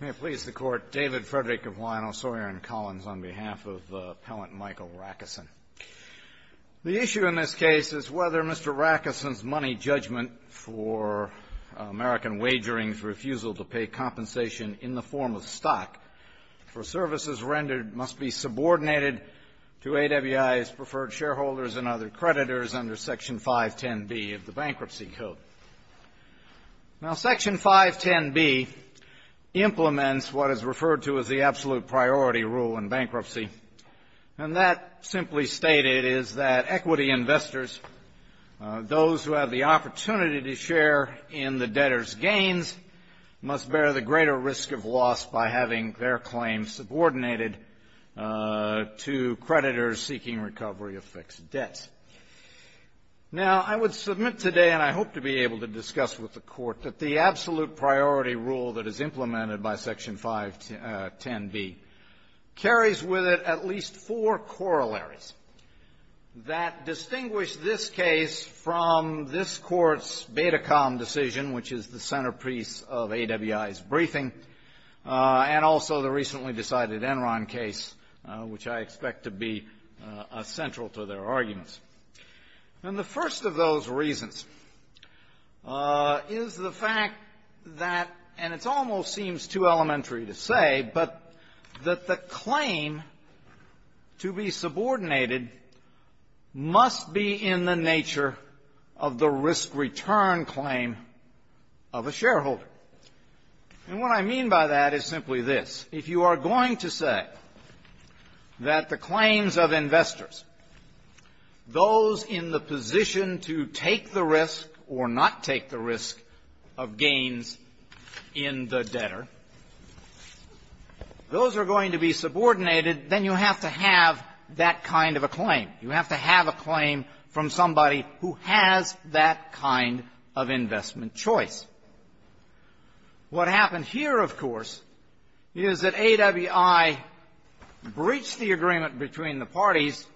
May it please the Court, David Frederick of Lionel Sawyer & Collins on behalf of Appellant Michael Racusin. The issue in this case is whether Mr. Racusin's money judgment for American Wagering's refusal to pay compensation in the form of stock for services rendered must be subordinated to AWI's preferred shareholders and other creditors under Section 510B of the Bankruptcy Code. Now, Section 510B implements what is referred to as the absolute priority rule in bankruptcy, and that simply stated is that equity investors, those who have the opportunity to share in the debtor's gains, must bear the greater risk of loss by having their claims subordinated to creditors seeking recovery of fixed debts. Now, I would submit today, and I hope to be able to discuss with the Court, that the absolute priority rule that is implemented by Section 510B carries with it at least four corollaries that distinguish this case from this Court's Betacom decision, which is the centerpiece of AWI's briefing, and also the recently decided Enron case, which I expect to be central to their arguments. And the first of those reasons is the fact that, and it almost seems too elementary to say, but that the claim to be subordinated must be in the nature of the risk return claim of a shareholder. And what I mean by that is simply this. If you are going to say that the claims of investors, those in the position to take the risk or not take the risk of gains in the debtor, those are going to be subordinated, then you have to have that kind of a claim. You have to have a claim from somebody who has that kind of investment choice. What happened here, of course, is that AWI breached the agreement between the parties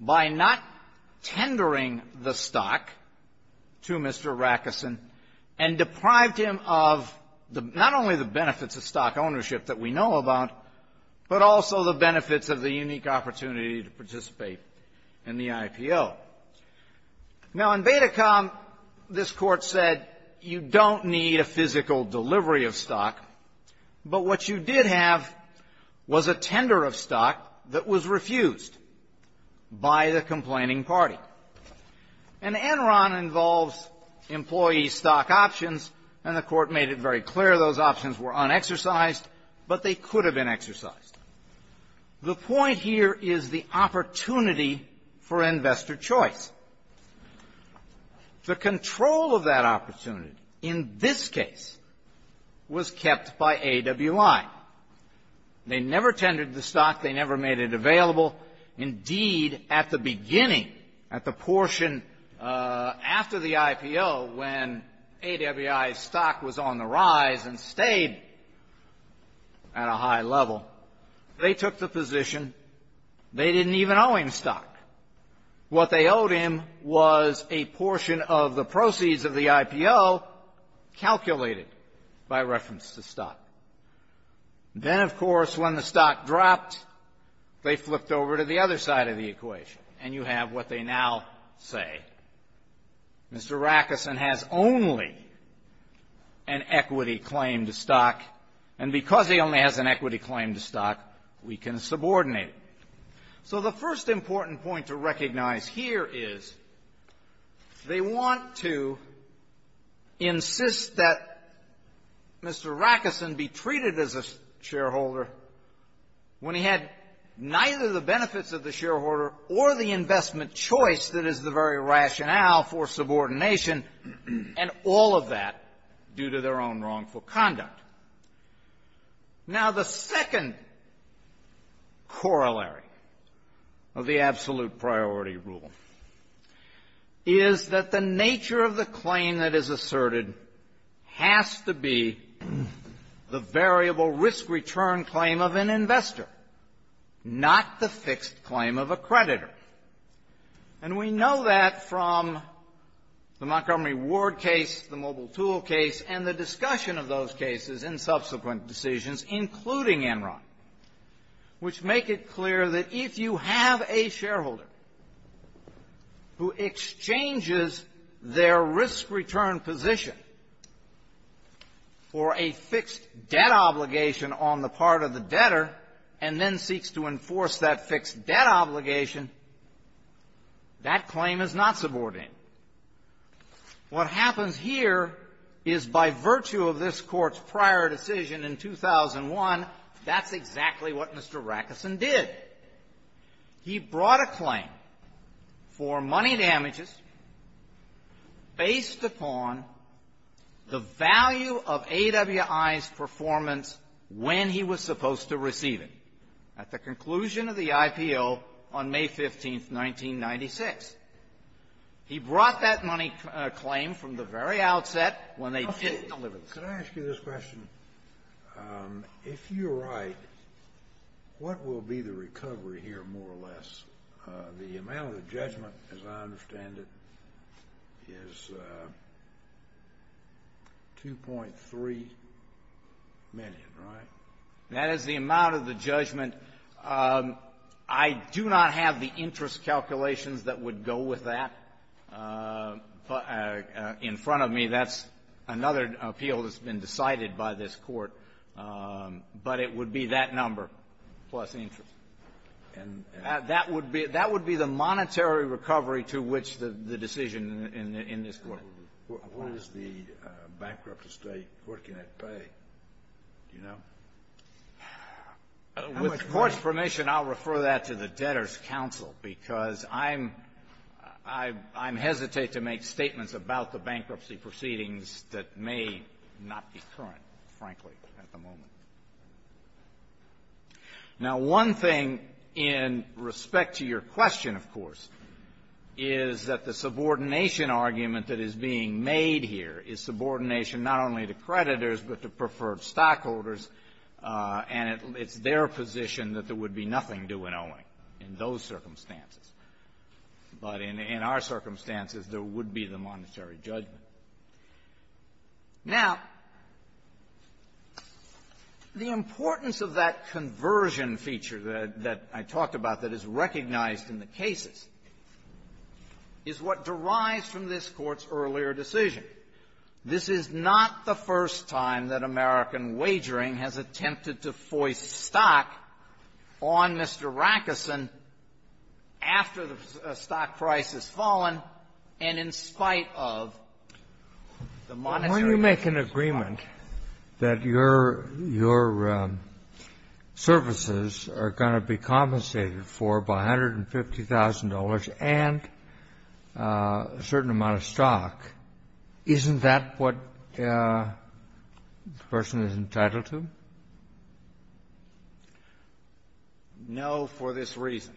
by not tendering the stock to Mr. Rackeson and deprived him of not only the benefits of stock ownership that we know about, but also the benefits of the unique opportunity to participate in the IPO. Now, in Betacom, this Court said you don't need a physical delivery of stock, but what you did have was a tender of stock that was refused by the complaining party. And Enron involves employee stock options, and the Court made it very clear those options were unexercised, but they could have been exercised. The point here is the opportunity for investor choice. The control of that opportunity, in this case, was kept by AWI. They never tendered the stock. They never made it available. Indeed, at the beginning, at the portion after the IPO, when AWI's stock was on the rise and stayed at a high level, they took the position they didn't even owe him stock. What they owed him was a portion of the proceeds of the IPO calculated by reference to stock. Then, of course, when the stock dropped, they flipped over to the other side of the equation, and you have what they now say. Mr. Rackeson has only an equity claim to stock, and because he only has an equity claim to stock, we can subordinate him. So the first important point to recognize here is they want to insist that Mr. Rackeson be treated as a shareholder when he had neither the benefits of the shareholder or the investment choice that is the very rationale for subordination, and all of that due to their own wrongful conduct. Now, the second corollary of the absolute priority rule is that the nature of the claim that is asserted has to be the variable risk return claim of an investor, not the fixed claim of a creditor. And we know that from the Montgomery Ward case, the Mobile Tool case, and the discussion of those cases in subsequent decisions, including Enron, which make it clear that if you have a shareholder who exchanges their risk return position for a fixed debt obligation on the part of the debtor, and then seeks to enforce that fixed debt obligation, that claim is not subordinated. What happens here is by virtue of this Court's prior decision in 2001, that's exactly what Mr. Rackeson did. He brought a claim for money damages based upon the value of AWI's performance when he was supposed to receive it, at the conclusion of the IPO on May 15th, 1996. He brought that money claim from the very outset when they didn't deliver the claim. Could I ask you this question? If you're right, what will be the recovery here, more or less? The amount of the judgment, as I understand it, is $2.3 million, right? That is the amount of the judgment. I do not have the interest calculations that would go with that in front of me. That's another appeal that's been decided by this Court. But it would be that number plus interest. And that would be the monetary recovery to which the decision in this Court applies. What is the bankrupt estate working at pay? Do you know? With Court's permission, I'll refer that to the Debtors' Counsel, because I'm hesitant to make statements about the bankruptcy proceedings that may not be current, frankly, at the moment. Now, one thing in respect to your question, of course, is that the subordination argument that is being made here is subordination not only to creditors, but to preferred stockholders. And it's their position that there would be nothing due in owing in those circumstances. But in our circumstances, there would be the monetary judgment. Now, the importance of that conversion feature that I talked about that is recognized in the cases is what derives from this Court's earlier decision. This is not the first time that American Wagering has attempted to foist stock on Mr. Rackerson after the stock price has fallen and in spite of the monetary judgment. When you make an agreement that your services are going to be compensated for by $150,000 and a certain amount of stock, isn't that what the person is entitled to? No, for this reason.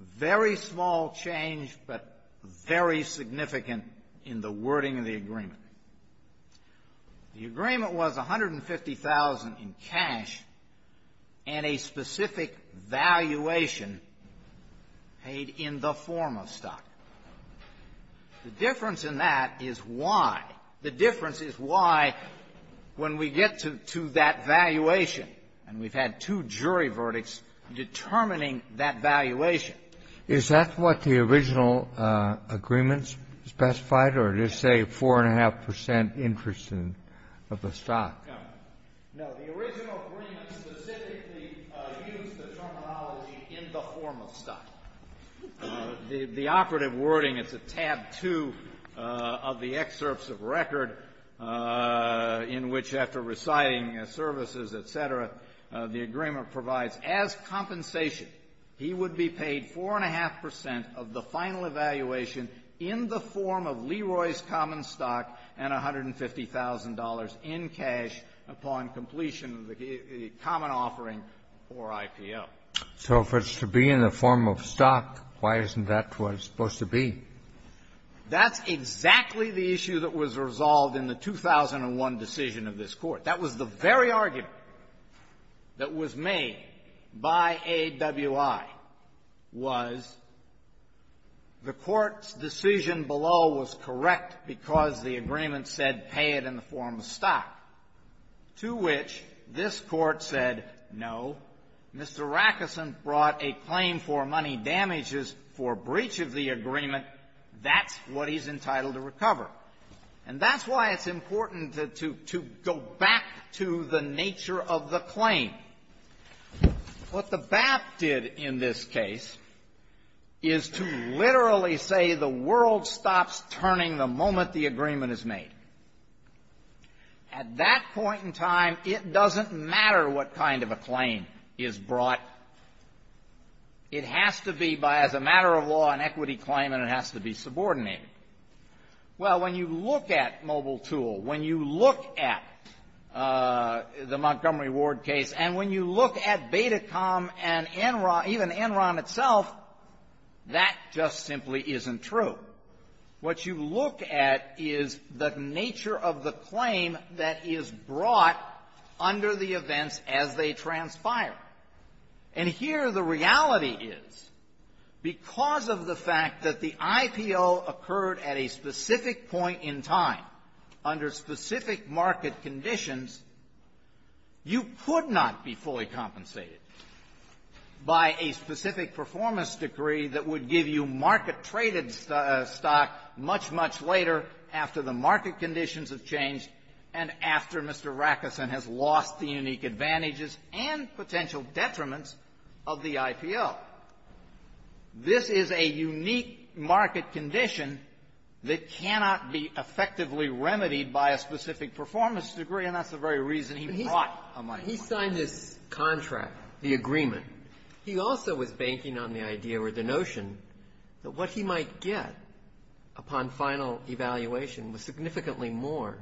Very small change, but very significant in the wording of the agreement. The agreement was $150,000 in cash and a specific valuation paid in the form of stock. The difference in that is why. The difference is why when we get to that valuation, and we've had two jury verdicts, determining that valuation. Is that what the original agreement specified? Or it is, say, 4.5% interest of the stock? No. No, the original agreement specifically used the terminology in the form of stock. The operative wording, it's a tab 2 of the excerpts of record in which after reciting services, et cetera, the agreement provides as compensation, he would be paid 4.5% of the final evaluation in the form of Leroy's common stock and $150,000 in cash upon completion of the common offering or IPO. So if it's to be in the form of stock, why isn't that what it's supposed to be? That's exactly the issue that was resolved in the 2001 decision of this Court. That was the very argument that was made by AWI was the Court's decision below was correct because the agreement said pay it in the form of stock, to which this Court said no. Mr. Rackeson brought a claim for money damages for breach of the agreement. That's what he's entitled to recover. And that's why it's important to go back to the nature of the claim. What the BAP did in this case is to literally say the world stops turning the moment the agreement is made. At that point in time, it doesn't matter what kind of a claim is brought. It has to be by, as a matter of law, an equity claim and it has to be subordinated. Well, when you look at MobileTool, when you look at the Montgomery Ward case, and when you look at Betacom and Enron, even Enron itself, that just simply isn't true. What you look at is the nature of the claim that is brought under the events as they transpire. And here the reality is, because of the fact that the IPO occurred at a specific point in time, under specific market conditions, you could not be fully compensated by a specific performance decree that would give you market-traded stock much, much later after the market conditions have changed and after Mr. Rackeson has lost the unique advantages and potential detriments of the IPO. This is a unique market condition that cannot be effectively remedied by a specific performance decree, and that's the very reason he brought a microcredit. He signed this contract, the agreement. He also was banking on the idea or the notion that what he might get upon final evaluation was significantly more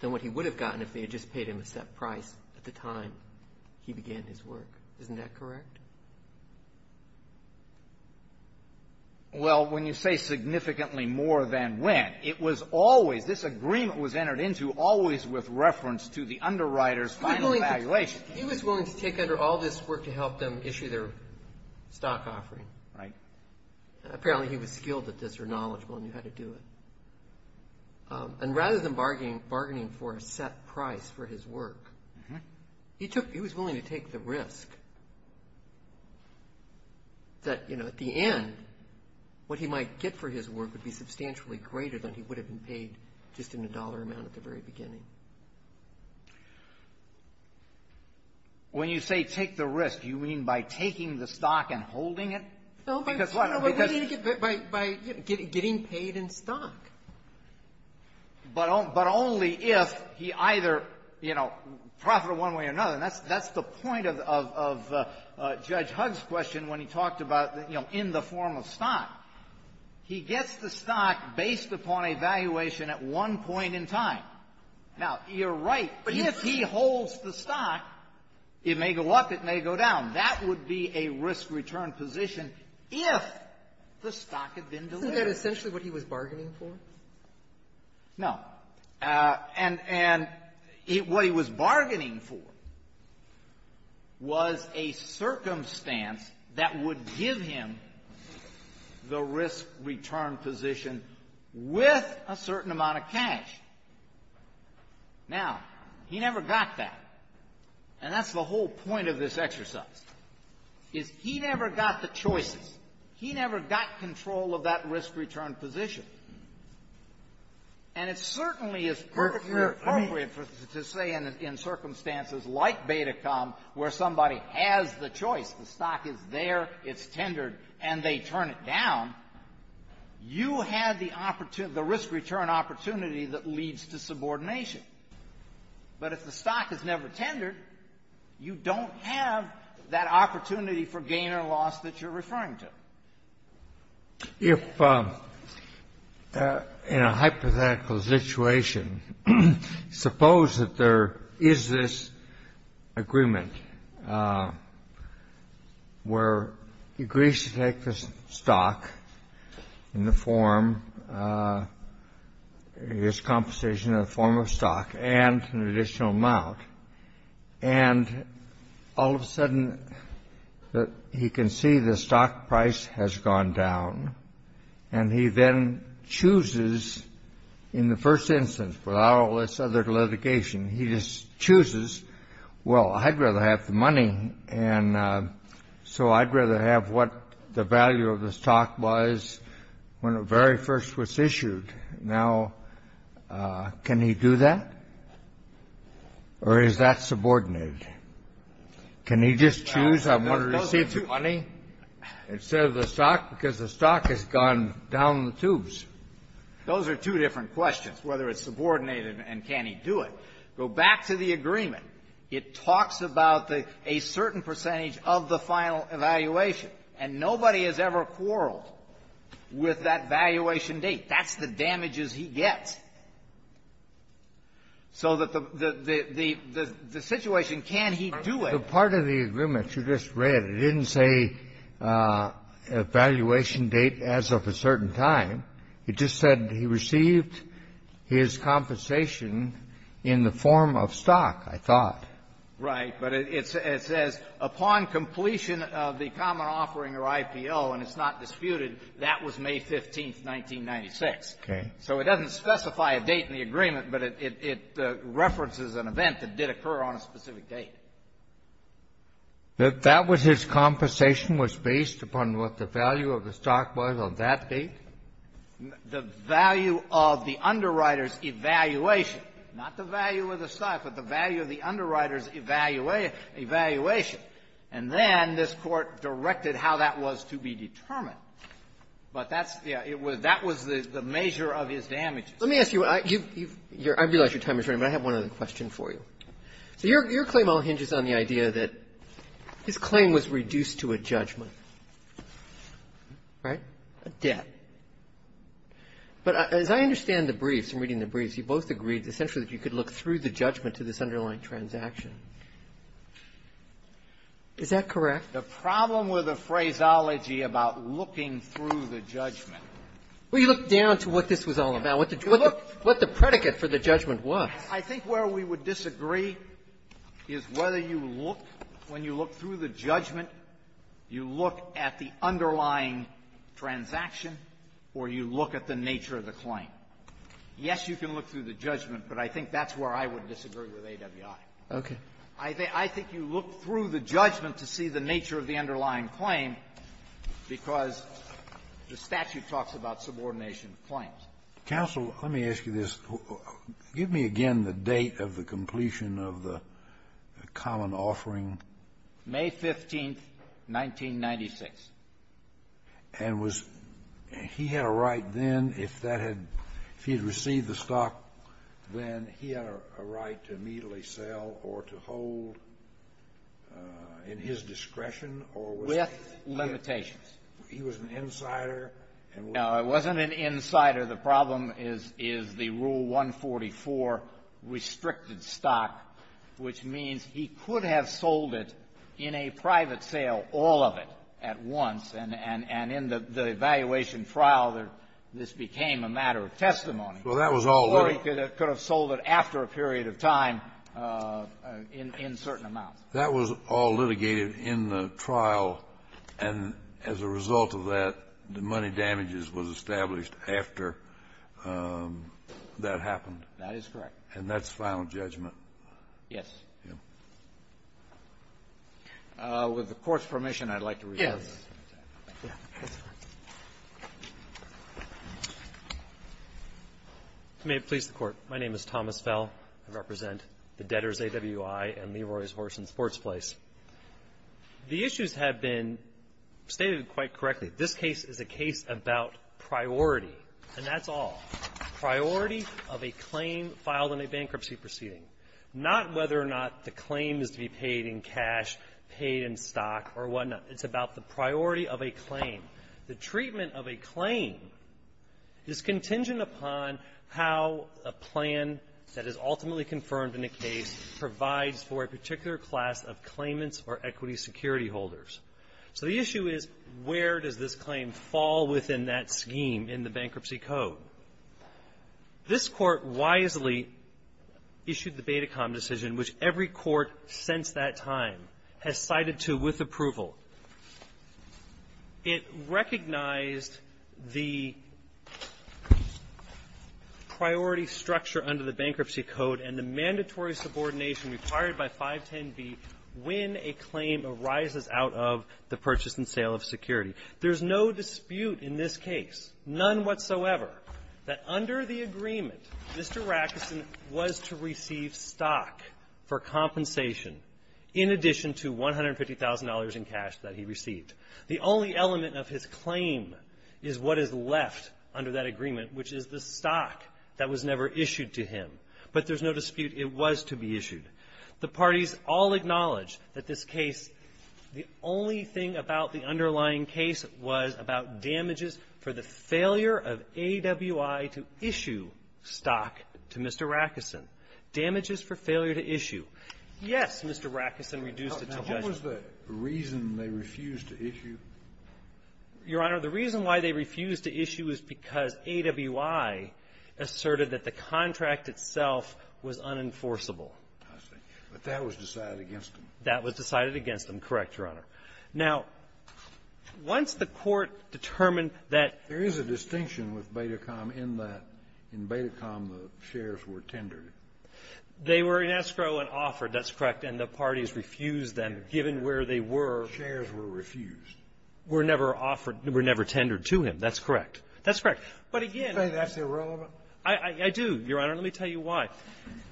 than what he would have gotten if they had just paid him a set price at the time he began his work. Isn't that correct? Well, when you say significantly more than when, it was always, this agreement was entered into always with reference to the underwriter's final evaluation. He was willing to take under all this work to help them issue their stock offering. Right. Apparently he was skilled at this or knowledgeable and knew how to do it. And rather than bargaining for a set price for his work, he took, he was willing to take the risk that, you know, at the end, what he might get for his work would be substantially greater than he would have been paid just in a dollar amount at the very beginning. When you say take the risk, you mean by taking the stock and holding it? No, by getting paid in stock. But only if he either, you know, profited one way or another. And that's the point of Judge Hugg's question when he talked about, you know, in the form of stock. He gets the stock based upon a valuation at one point in time. Now, you're right. If he holds the stock, it may go up, it may go down. That would be a risk-return position if the No. And what he was bargaining for was a circumstance that would give him the risk-return position with a certain amount of cash. Now, he never got that. And that's the whole point of this exercise. Is he never got the choices. He never got control of that risk-return position. And it certainly is perfectly appropriate to say in circumstances like Betacom where somebody has the choice, the stock is there, it's tendered, and they turn it down, you have the risk-return opportunity that leads to subordination. But if the stock is never tendered, you don't have that opportunity for gain or loss that you're referring to. If in a hypothetical situation, suppose that there is this agreement where he agrees to take the stock in the form, his compensation in the form of stock and an additional amount and all of a sudden he can see the stock price has gone down and he then chooses in the first instance, without all this other litigation, he just chooses well, I'd rather have the money and so I'd rather have what the value of the stock was when it very first was issued. Now, can he do that? Or is that subordinated? Can he just choose I want to receive the money instead of the stock because the stock has gone down the tubes? Those are two different questions, whether it's subordinated and can he do it. Go back to the agreement. It talks about a certain percentage of the final evaluation. And nobody has ever quarreled with that valuation date. That's the damages he gets. So that the situation, can he do it? The part of the agreement you just read, it didn't say evaluation date as of a certain time. It just said he received his compensation in the form of stock, I thought. Right, but it says upon completion of the common offering or IPO, and it's not disputed, that was May 15th, 1996. So it doesn't specify a date in the agreement, but it references an event that did occur on a specific date. That that was his compensation was based upon what the value of the stock was on that date? The value of the underwriter's evaluation, not the value of the stock, but the value of the underwriter's evaluation. And then this Court directed how that was to be determined. But that's, yeah, that was the measure of his damages. Let me ask you, I realize your time is running, but I have one other question for you. So your claim all hinges on the idea that his claim was reduced to a judgment, right? A debt. But as I understand the briefs, I'm reading the briefs, you both agreed essentially that you could look through the judgment to this underlying transaction. Is that correct? The problem with the phraseology about looking through the judgment. Well, you look down to what this was all about, what the predicate for the judgment was. I think where we would disagree is whether you look, when you look through the judgment, you look at the underlying transaction or you look at the nature of the claim. Yes, you can look through the judgment, but I think that's where I would disagree with AWI. Okay. I think you look through the judgment to see the nature of the underlying claim because the statute talks about subordination claims. Counsel, let me ask you this. Give me again the date of the completion of the common offering. May 15th, 1996. And was he had a right then, if that had, if he had received the stock, then he had a right to immediately sell or to hold in his discretion? With limitations. He was an insider? No, he wasn't an insider. The problem is the Rule 144 restricted stock, which means he could have sold it in a private sale, all of it at once, and in the evaluation trial, this became a matter of testimony. Well, that was all right. Or he could have sold it after a period of time in certain amounts. That was all litigated in the trial, and as a result of that, the money damages was established after that happened. That is correct. And that's final judgment? Yes. With the Court's permission, I'd like to report. Yes. May it please the Court. My name is Thomas Fell. I represent the Debtors' AWI and Leroy's Horse and Sports Place. The issues have been stated quite correctly. This case is a case about priority. And that's all. Priority of a claim filed in a bankruptcy proceeding. Not whether or not the claim is to be paid in cash, paid in stock, or whatnot. It's about the priority of a claim. The treatment of a claim is contingent upon how a plan that is ultimately confirmed in a case provides for a particular class of claimants or equity security holders. So the issue is, where does this claim fall within that scheme in the Bankruptcy Code? This Court wisely issued the Betacom decision, which every court since that time has cited to with approval. It recognized the priority structure under the Bankruptcy Code and the mandatory subordination required by 510B when a claim arises out of the purchase and sale of security. There's no dispute in this case, none whatsoever, that under the agreement, Mr. Rackeson was allowed to receive stock for compensation in addition to $150,000 in cash that he received. The only element of his claim is what is left under that agreement, which is the stock that was never issued to him. But there's no dispute it was to be issued. The parties all acknowledge that this case, the only thing about the underlying case was about damages for the failure of AWI to issue stock to Mr. Rackeson, damages for failure to issue. Yes, Mr. Rackeson reduced it to judgment. Now, what was the reason they refused to issue? Your Honor, the reason why they refused to issue is because AWI asserted that the contract itself was unenforceable. I see. But that was decided against them. That was decided against them. Correct, Your Honor. Now, once the Court determined that ---- There is a distinction with Betacom in that, in Betacom, the shares were tendered. They were in escrow and offered, that's correct, and the parties refused them given where they were. Shares were refused. Were never offered, were never tendered to him. That's correct. That's correct. But again ---- Do you think that's irrelevant? I do, Your Honor. Let me tell you why.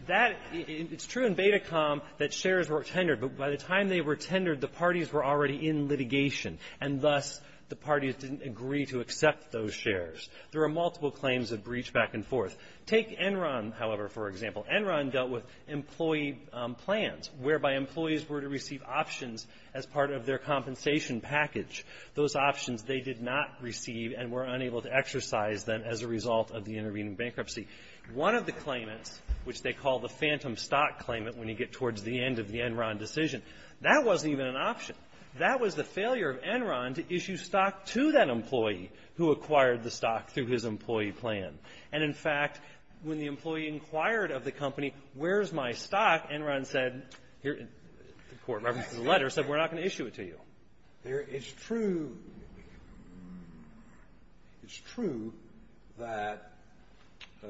That ---- it's true in Betacom that shares were tendered. But by the time they were tendered, the parties were already in litigation, and thus the parties didn't agree to accept those shares. There are multiple claims of breach back and forth. Take Enron, however, for example. Enron dealt with employee plans whereby employees were to receive options as part of their compensation package. Those options they did not receive and were unable to exercise them as a result of the intervening bankruptcy. One of the claimants, which they did, asked Enron to issue stock to that employee who acquired the stock through his employee plan. And in fact, when the employee inquired of the company, where's my stock, Enron said, here ---- the Court references the letter, said we're not going to issue it to you. It's true ---- it's true that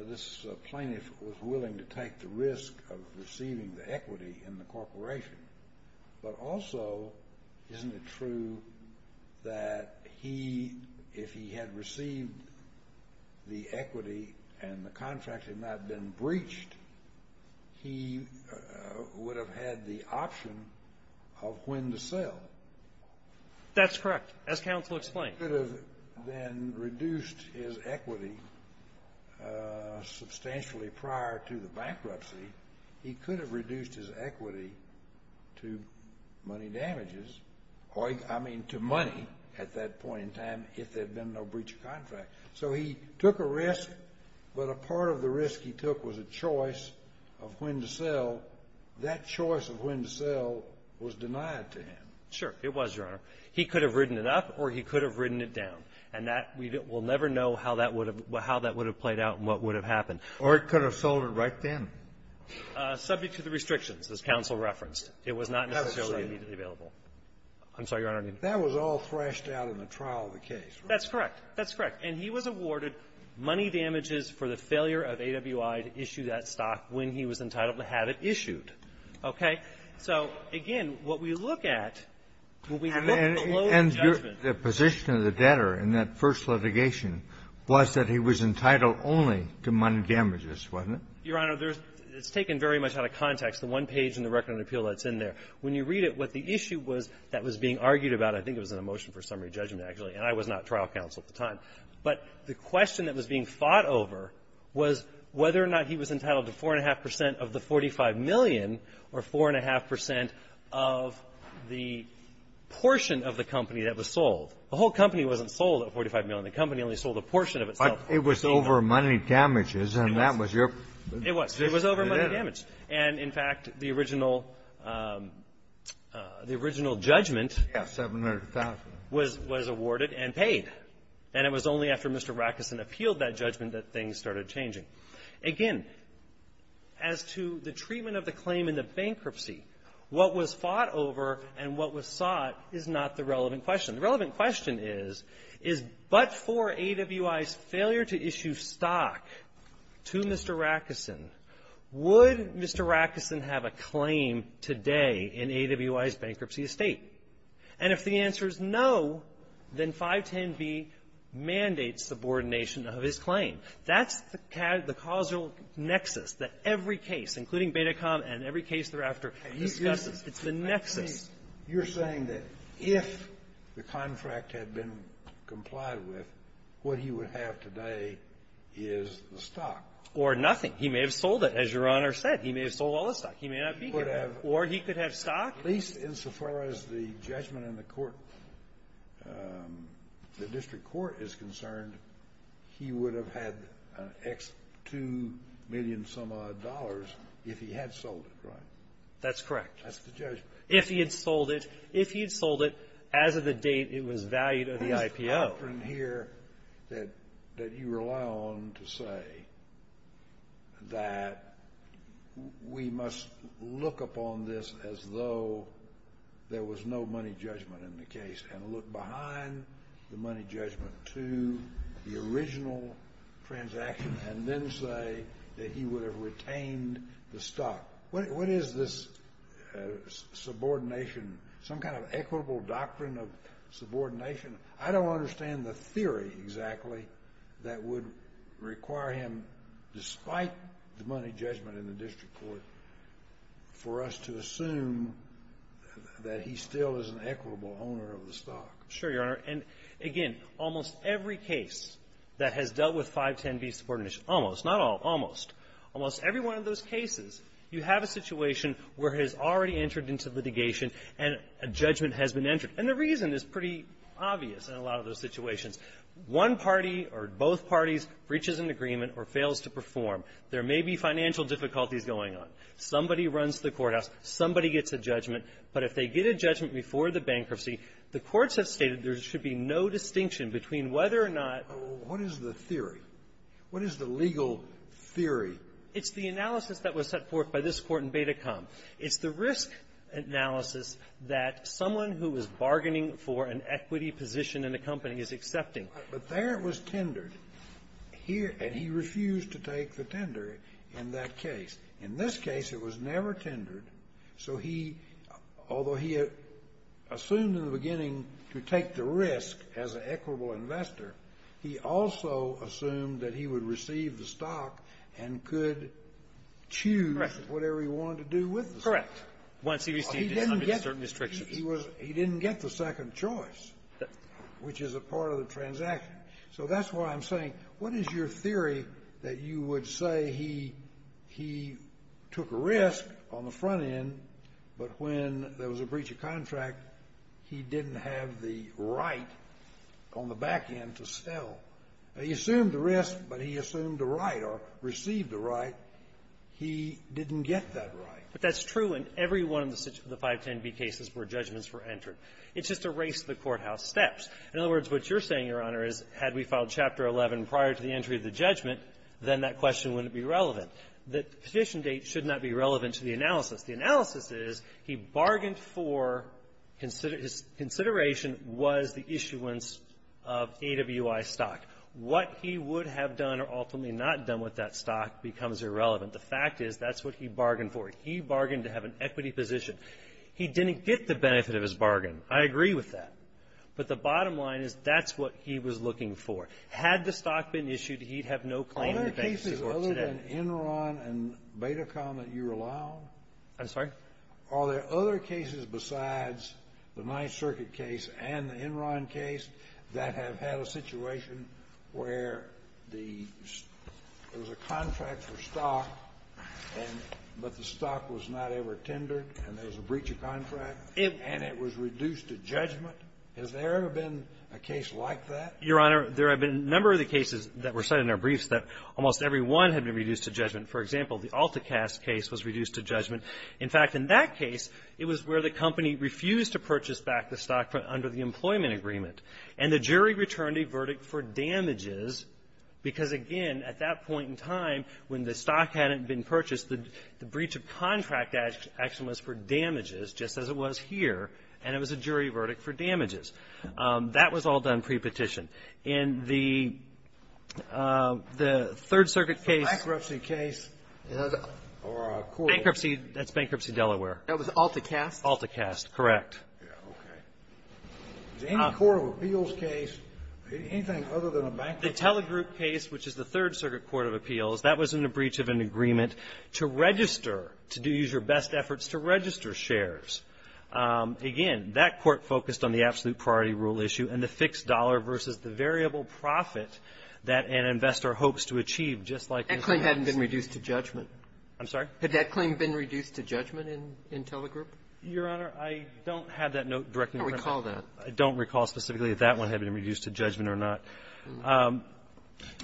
this plaintiff was willing to take the risk of receiving the equity in the corporation. But also, isn't it true that he, if he had received the equity and the contract had not been breached, he would have had the option of when to sell? That's correct. As counsel explained. He could have then reduced his equity substantially prior to the bankruptcy. He could have reduced his equity to money damages or, I mean, to money at that point in time if there had been no breach of contract. So he took a risk, but a part of the risk he took was a choice of when to sell. That choice of when to sell was denied to him. Sure. It was, Your Honor. He could have ridden it up or he could have ridden it down. And that, we'll never know how that would have played out and what would have happened. Or he could have sold it right then. Subject to the restrictions, as counsel referenced. It was not necessarily immediately available. I'm sorry, Your Honor. That was all thrashed out in the trial of the case, right? That's correct. That's correct. And he was awarded money damages for the failure of AWI to issue that stock when he was entitled to have it issued. Okay? So, again, what we look at when we look below the judgment ---- And your position of the debtor in that first litigation was that he was entitled only to money damages, wasn't it? Your Honor, there's ---- it's taken very much out of context, the one page in the record on appeal that's in there. When you read it, what the issue was that was being argued about, I think it was in a motion for summary judgment, actually, and I was not trial counsel at the time. But the question that was being fought over was whether or not he was entitled to 4.5 percent of the $45 million or 4.5 percent of the portion of the company that was sold. The whole company wasn't sold at $45 million. The company only sold a portion of itself. But it was over money damages, and that was your ---- It was. It was over money damages. And, in fact, the original ---- the original judgment ---- Yes, $700,000. Was awarded and paid. And it was only after Mr. Rackerson appealed that judgment that things started changing. Again, as to the treatment of the claim in the bankruptcy, what was fought over and what was sought is not the relevant question. The relevant question is, is, but for AWI's failure to issue stock to Mr. Rackerson, would Mr. Rackerson have a claim today in AWI's bankruptcy estate? And if the answer is no, then 510B mandates subordination of his claim. That's the causal nexus that every case, including Betacom and every case thereafter discusses. It's the nexus. But you're saying that if the contract had been complied with, what he would have today is the stock. Or nothing. He may have sold it, as Your Honor said. He may have sold all the stock. He may not be here. He could have. Or he could have stock. At least insofar as the judgment in the court ---- the district court is concerned, he would have had X2 million-some-odd dollars if he had sold it, right? That's correct. That's the judgment. If he had sold it. If he had sold it, as of the date it was valued at the IPO. What is the doctrine here that you rely on to say that we must look upon this as though there was no money judgment in the case and look behind the money judgment to the original transaction and then say that he would have retained the stock? What is this subordination, some kind of equitable doctrine of subordination? I don't understand the theory exactly that would require him, despite the money judgment in the district court, for us to assume that he still is an equitable owner of the stock. I'm sure, Your Honor. And, again, almost every case that has dealt with 510B subordination ---- almost. Not all. Almost. Almost every one of those cases, you have a situation where it has already entered into litigation and a judgment has been entered. And the reason is pretty obvious in a lot of those situations. One party or both parties reaches an agreement or fails to perform. There may be financial difficulties going on. Somebody runs the courthouse. Somebody gets a judgment. But if they get a judgment before the bankruptcy, the courts have stated there should be no distinction between whether or not ---- What is the theory? What is the legal theory? It's the analysis that was set forth by this Court in Betacom. It's the risk analysis that someone who is bargaining for an equity position in a company is accepting. But there it was tendered. Here ---- and he refused to take the tender in that case. In this case, it was never tendered. So he ---- although he assumed in the beginning to take the risk as an equitable investor, he also assumed that he would receive the stock and could choose whatever he wanted to do with the stock. Correct. Once he received it under certain restrictions. He was ---- he didn't get the second choice, which is a part of the transaction. So that's why I'm saying, what is your theory that you would say he took a risk on the front end, but when there was a breach of contract, he didn't have the right on the back end to sell? He assumed the risk, but he assumed the right or received the right. He didn't get that right. But that's true in every one of the 510B cases where judgments were entered. It's just a race to the courthouse steps. In other words, what you're saying, Your Honor, is had we filed Chapter 11 prior to the entry of the judgment, then that question wouldn't be relevant. The petition date should not be relevant to the analysis. The analysis is he bargained for ---- his consideration was the issuance of AWI stock. What he would have done or ultimately not done with that stock becomes irrelevant. The fact is, that's what he bargained for. He bargained to have an equity position. He didn't get the benefit of his bargain. I agree with that. But the bottom line is, that's what he was looking for. Had the stock been issued, he'd have no claim in the bankruptcy court today. Is that an Enron and Betacon that you're allowing? I'm sorry? Are there other cases besides the Ninth Circuit case and the Enron case that have had a situation where the ---- there was a contract for stock, and ---- but the stock was not ever tendered, and there was a breach of contract, and it was reduced to judgment? Has there ever been a case like that? Your Honor, there have been a number of the cases that were cited in our briefs that almost every one had been reduced to judgment. For example, the Altecast case was reduced to judgment. In fact, in that case, it was where the company refused to purchase back the stock under the employment agreement. And the jury returned a verdict for damages because, again, at that point in time, when the stock hadn't been purchased, the breach of contract action was for damages, just as it was here, and it was a jury verdict for damages. That was all done prepetition. In the Third Circuit case ---- The bankruptcy case, or a court ---- Bankruptcy. That's Bankruptcy, Delaware. That was Altecast? Altecast, correct. Okay. Is any court of appeals case, anything other than a bankruptcy case ---- The Telegroup case, which is the Third Circuit Court of Appeals, that was in a breach of an agreement to register, to use your best efforts to register shares. Again, that court focused on the absolute priority rule issue, and the fixed dollar versus the variable profit that an investor hopes to achieve, just like the ---- That claim hadn't been reduced to judgment. I'm sorry? Had that claim been reduced to judgment in Telegroup? Your Honor, I don't have that note directly in front of me. I don't recall that. I don't recall specifically if that one had been reduced to judgment or not.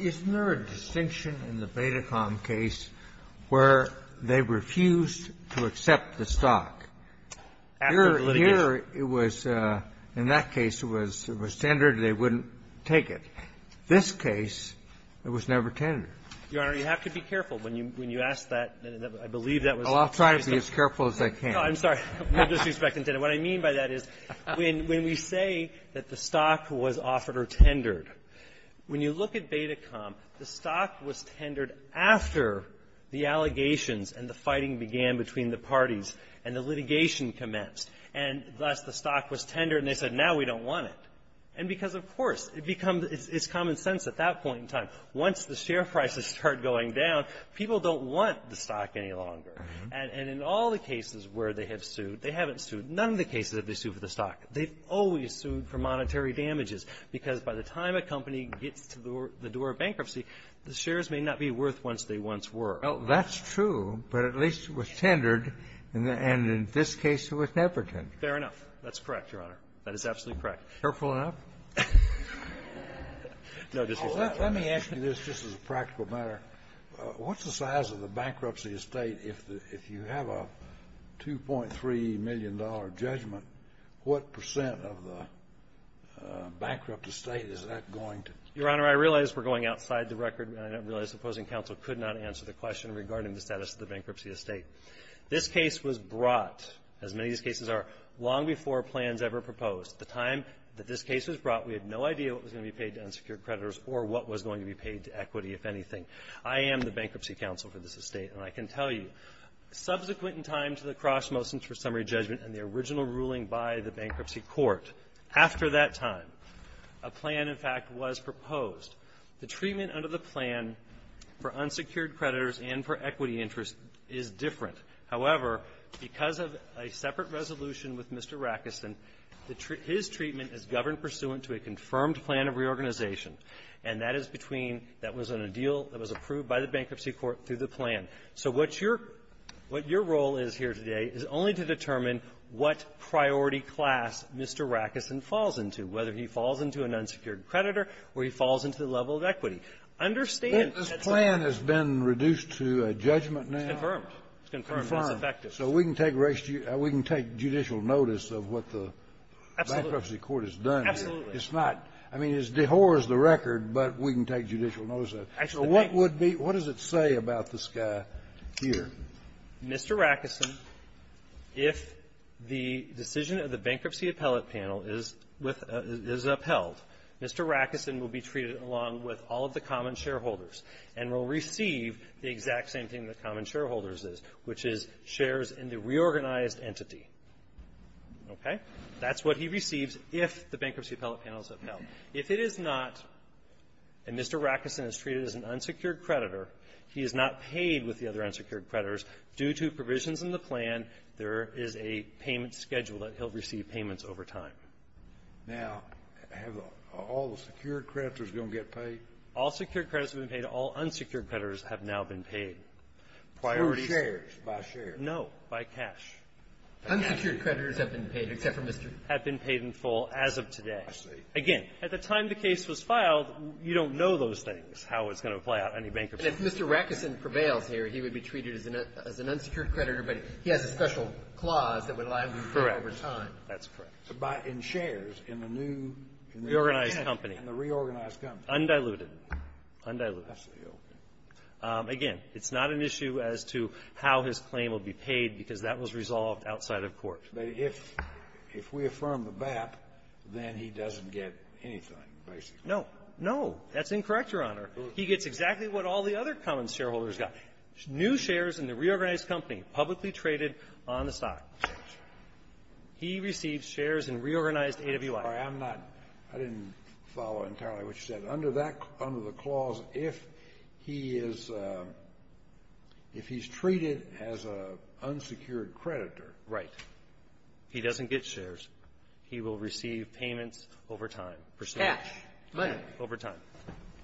Isn't there a distinction in the Betacom case where they refused to accept the stock after the litigation? I'm sure it was, in that case, it was tendered, and they wouldn't take it. This case, it was never tendered. Your Honor, you have to be careful when you ask that. I believe that was ---- Oh, I'll try to be as careful as I can. No, I'm sorry. I'm not disrespecting tender. What I mean by that is when we say that the stock was offered or tendered, when you look at Betacom, the stock was tendered after the allegations and the fighting began between the parties and the litigation commenced. And thus, the stock was tendered, and they said, now we don't want it. And because, of course, it becomes ---- it's common sense at that point in time. Once the share prices start going down, people don't want the stock any longer. And in all the cases where they have sued, they haven't sued. None of the cases have they sued for the stock. They've always sued for monetary damages, because by the time a company gets to the door of bankruptcy, the shares may not be worth what they once were. Well, that's true, but at least it was tendered, and in this case it was never tendered. Fair enough. That's correct, Your Honor. That is absolutely correct. Careful enough? No, Justice Breyer. Let me ask you this, just as a practical matter. What's the size of the bankruptcy estate if you have a $2.3 million judgment? What percent of the bankrupt estate is that going to? Your Honor, I realize we're going outside the record, and I realize the opposing counsel could not answer the question regarding the status of the bankruptcy estate. This case was brought, as many of these cases are, long before plans ever proposed. At the time that this case was brought, we had no idea what was going to be paid to unsecured creditors or what was going to be paid to equity, if anything. I am the bankruptcy counsel for this estate, and I can tell you, subsequent in time to the cross motions for summary judgment and the original ruling by the bankruptcy court, after that time, a plan, in fact, was proposed. The treatment under the plan for unsecured creditors and for equity interest is different. However, because of a separate resolution with Mr. Rackerson, the treat – his treatment is governed pursuant to a confirmed plan of reorganization. And that is between – that was on a deal that was approved by the bankruptcy court through the plan. So what your – what your role is here today is only to determine what priority class Mr. Rackerson falls into, whether he falls into an unsecured creditor or he falls into the level of equity. Understand – This plan has been reduced to a judgment now? It's confirmed. It's confirmed. It's effective. So we can take – we can take judicial notice of what the bankruptcy court has done here. Absolutely. It's not – I mean, it dehorses the record, but we can take judicial notice of it. Actually, the thing – So what would be – what does it say about this guy here? Mr. Rackerson, if the decision of the bankruptcy appellate panel is with – is upheld, Mr. Rackerson will be treated along with all of the common shareholders and will receive the exact same thing that common shareholders is, which is shares in the reorganized entity. Okay? That's what he receives if the bankruptcy appellate panel is upheld. If it is not, and Mr. Rackerson is treated as an unsecured creditor, he is not paid with the other unsecured creditors. Due to provisions in the plan, there is a payment schedule that he'll receive payments over time. Now, have all the secured creditors going to get paid? All secured creditors have been paid. All unsecured creditors have now been paid. Priorities – For shares. By shares. No. By cash. Unsecured creditors have been paid, except for Mr. — Have been paid in full as of today. I see. Again, at the time the case was filed, you don't know those things, how it's going to play out in any bankruptcy. If Mr. Rackerson prevails here, he would be treated as an unsecured creditor, but he has a special clause that would allow him to be paid over time. Correct. That's correct. But in shares, in the new – Reorganized company. In the reorganized company. Undiluted. Undiluted. I see. Okay. Again, it's not an issue as to how his claim will be paid, because that was resolved outside of court. But if we affirm the BAP, then he doesn't get anything, basically. No. No. That's incorrect, Your Honor. He gets exactly what all the other common shareholders got, new shares in the reorganized company, publicly traded on the stock. He receives shares in reorganized AWI. I'm not – I didn't follow entirely what you said. Under that – under the clause, if he is – if he's treated as an unsecured creditor. Right. He doesn't get shares. He will receive payments over time. Cash. Money. Over time.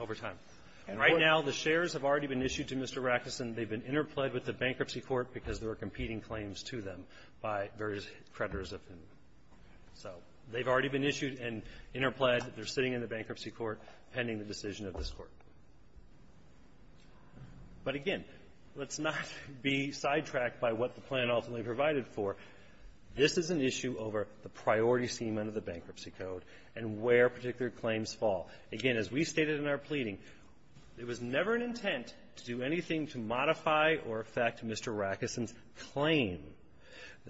Over time. And right now, the shares have already been issued to Mr. Rackerson. They've been interpled with the bankruptcy court because there are competing claims to them by various creditors of him. So they've already been issued and interpled. They're sitting in the bankruptcy court pending the decision of this court. But again, let's not be sidetracked by what the plan ultimately provided for. This is an issue over the priority statement of the bankruptcy code and where particular claims fall. Again, as we stated in our pleading, it was never an intent to do anything to modify or affect Mr. Rackerson's claim.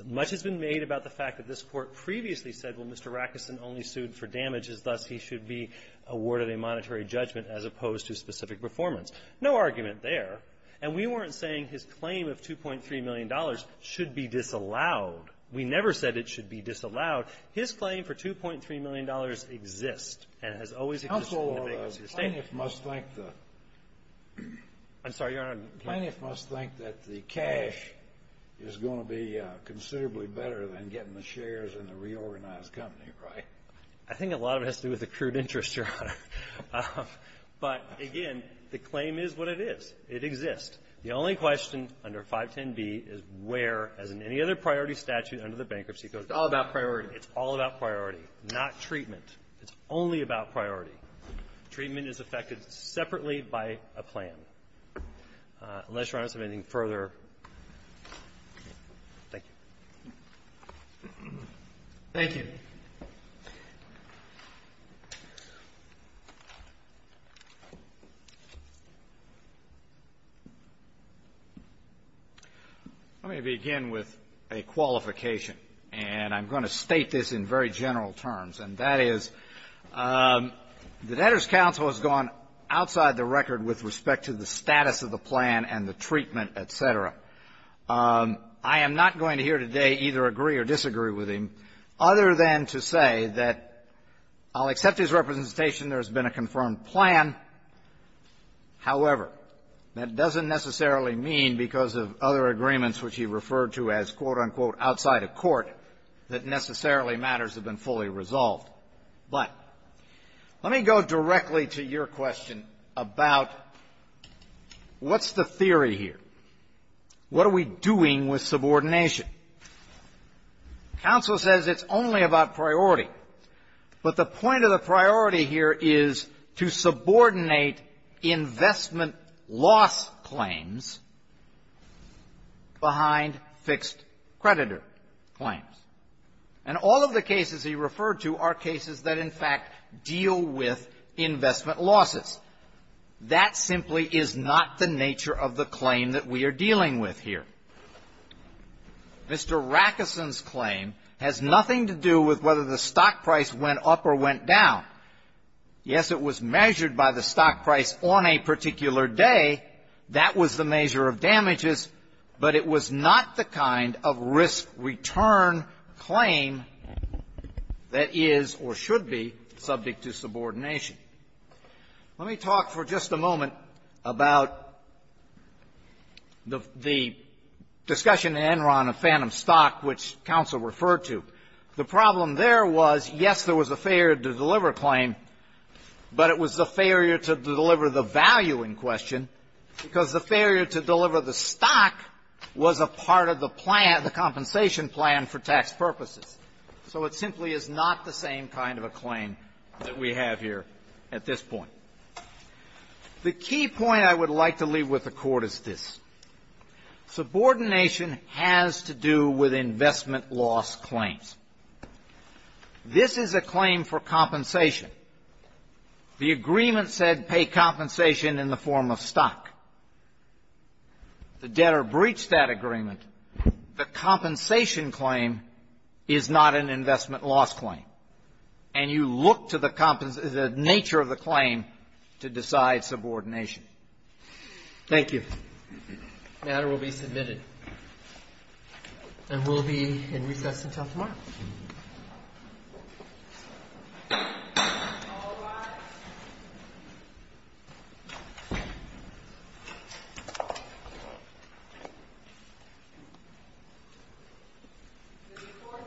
Much has been made about the fact that this court previously said, well, Mr. Rackerson only sued for damages, thus he should be awarded a monetary judgment as opposed to specific performance. No argument there. And we weren't saying his claim of $2.3 million should be disallowed. We never said it should be disallowed. His claim for $2.3 million exists and has always existed in the bankruptcy statement. Counsel, plaintiff must think that the cash is going to be considerably better than getting the shares in the reorganized company, right? I think a lot of it has to do with accrued interest, Your Honor. But again, the claim is what it is. It exists. The only question under 510B is where, as in any other priority statute under the bankruptcy It's all about priority. It's all about priority, not treatment. It's only about priority. Treatment is affected separately by a plan. Unless, Your Honor, you have anything further, thank you. Thank you. I'm going to begin with a qualification. And I'm going to state this in very general terms. And that is, the debtor's counsel has gone outside the record with respect to the status of the plan and the treatment, et cetera. I am not going to here today either agree or disagree with him, other than to say that I'll accept his representation. There has been a confirmed plan. However, that doesn't necessarily mean, because of other agreements which he referred to as, quote, unquote, outside of court, that necessarily matters have been fully resolved. But let me go directly to your question about what's the theory here? What are we doing with subordination? Counsel says it's only about priority. But the point of the priority here is to subordinate investment loss claims behind fixed creditor claims. And all of the cases he referred to are cases that, in fact, deal with investment losses. That simply is not the nature of the claim that we are dealing with here. Mr. Rackeson's claim has nothing to do with whether the stock price went up or went down. Yes, it was measured by the stock price on a particular day. That was the measure of damages. But it was not the kind of risk return claim that is, or should be, subject to subordination. Let me talk for just a moment about the discussion in Enron of Phantom Stock, which counsel referred to. The problem there was, yes, there was a failure to deliver a claim, but it was a failure to deliver the value in question, because the failure to deliver the stock was a part of the plan, the compensation plan for tax purposes. So it simply is not the same kind of a claim that we have here at this point. The key point I would like to leave with the Court is this. Subordination has to do with investment loss claims. This is a claim for compensation. The agreement said pay compensation in the form of stock. The debtor breached that agreement. The compensation claim is not an investment loss claim. And you look to the nature of the claim to decide subordination. Thank you. The matter will be submitted. And we'll be in recess until tomorrow. The recourse of this session is adjourned.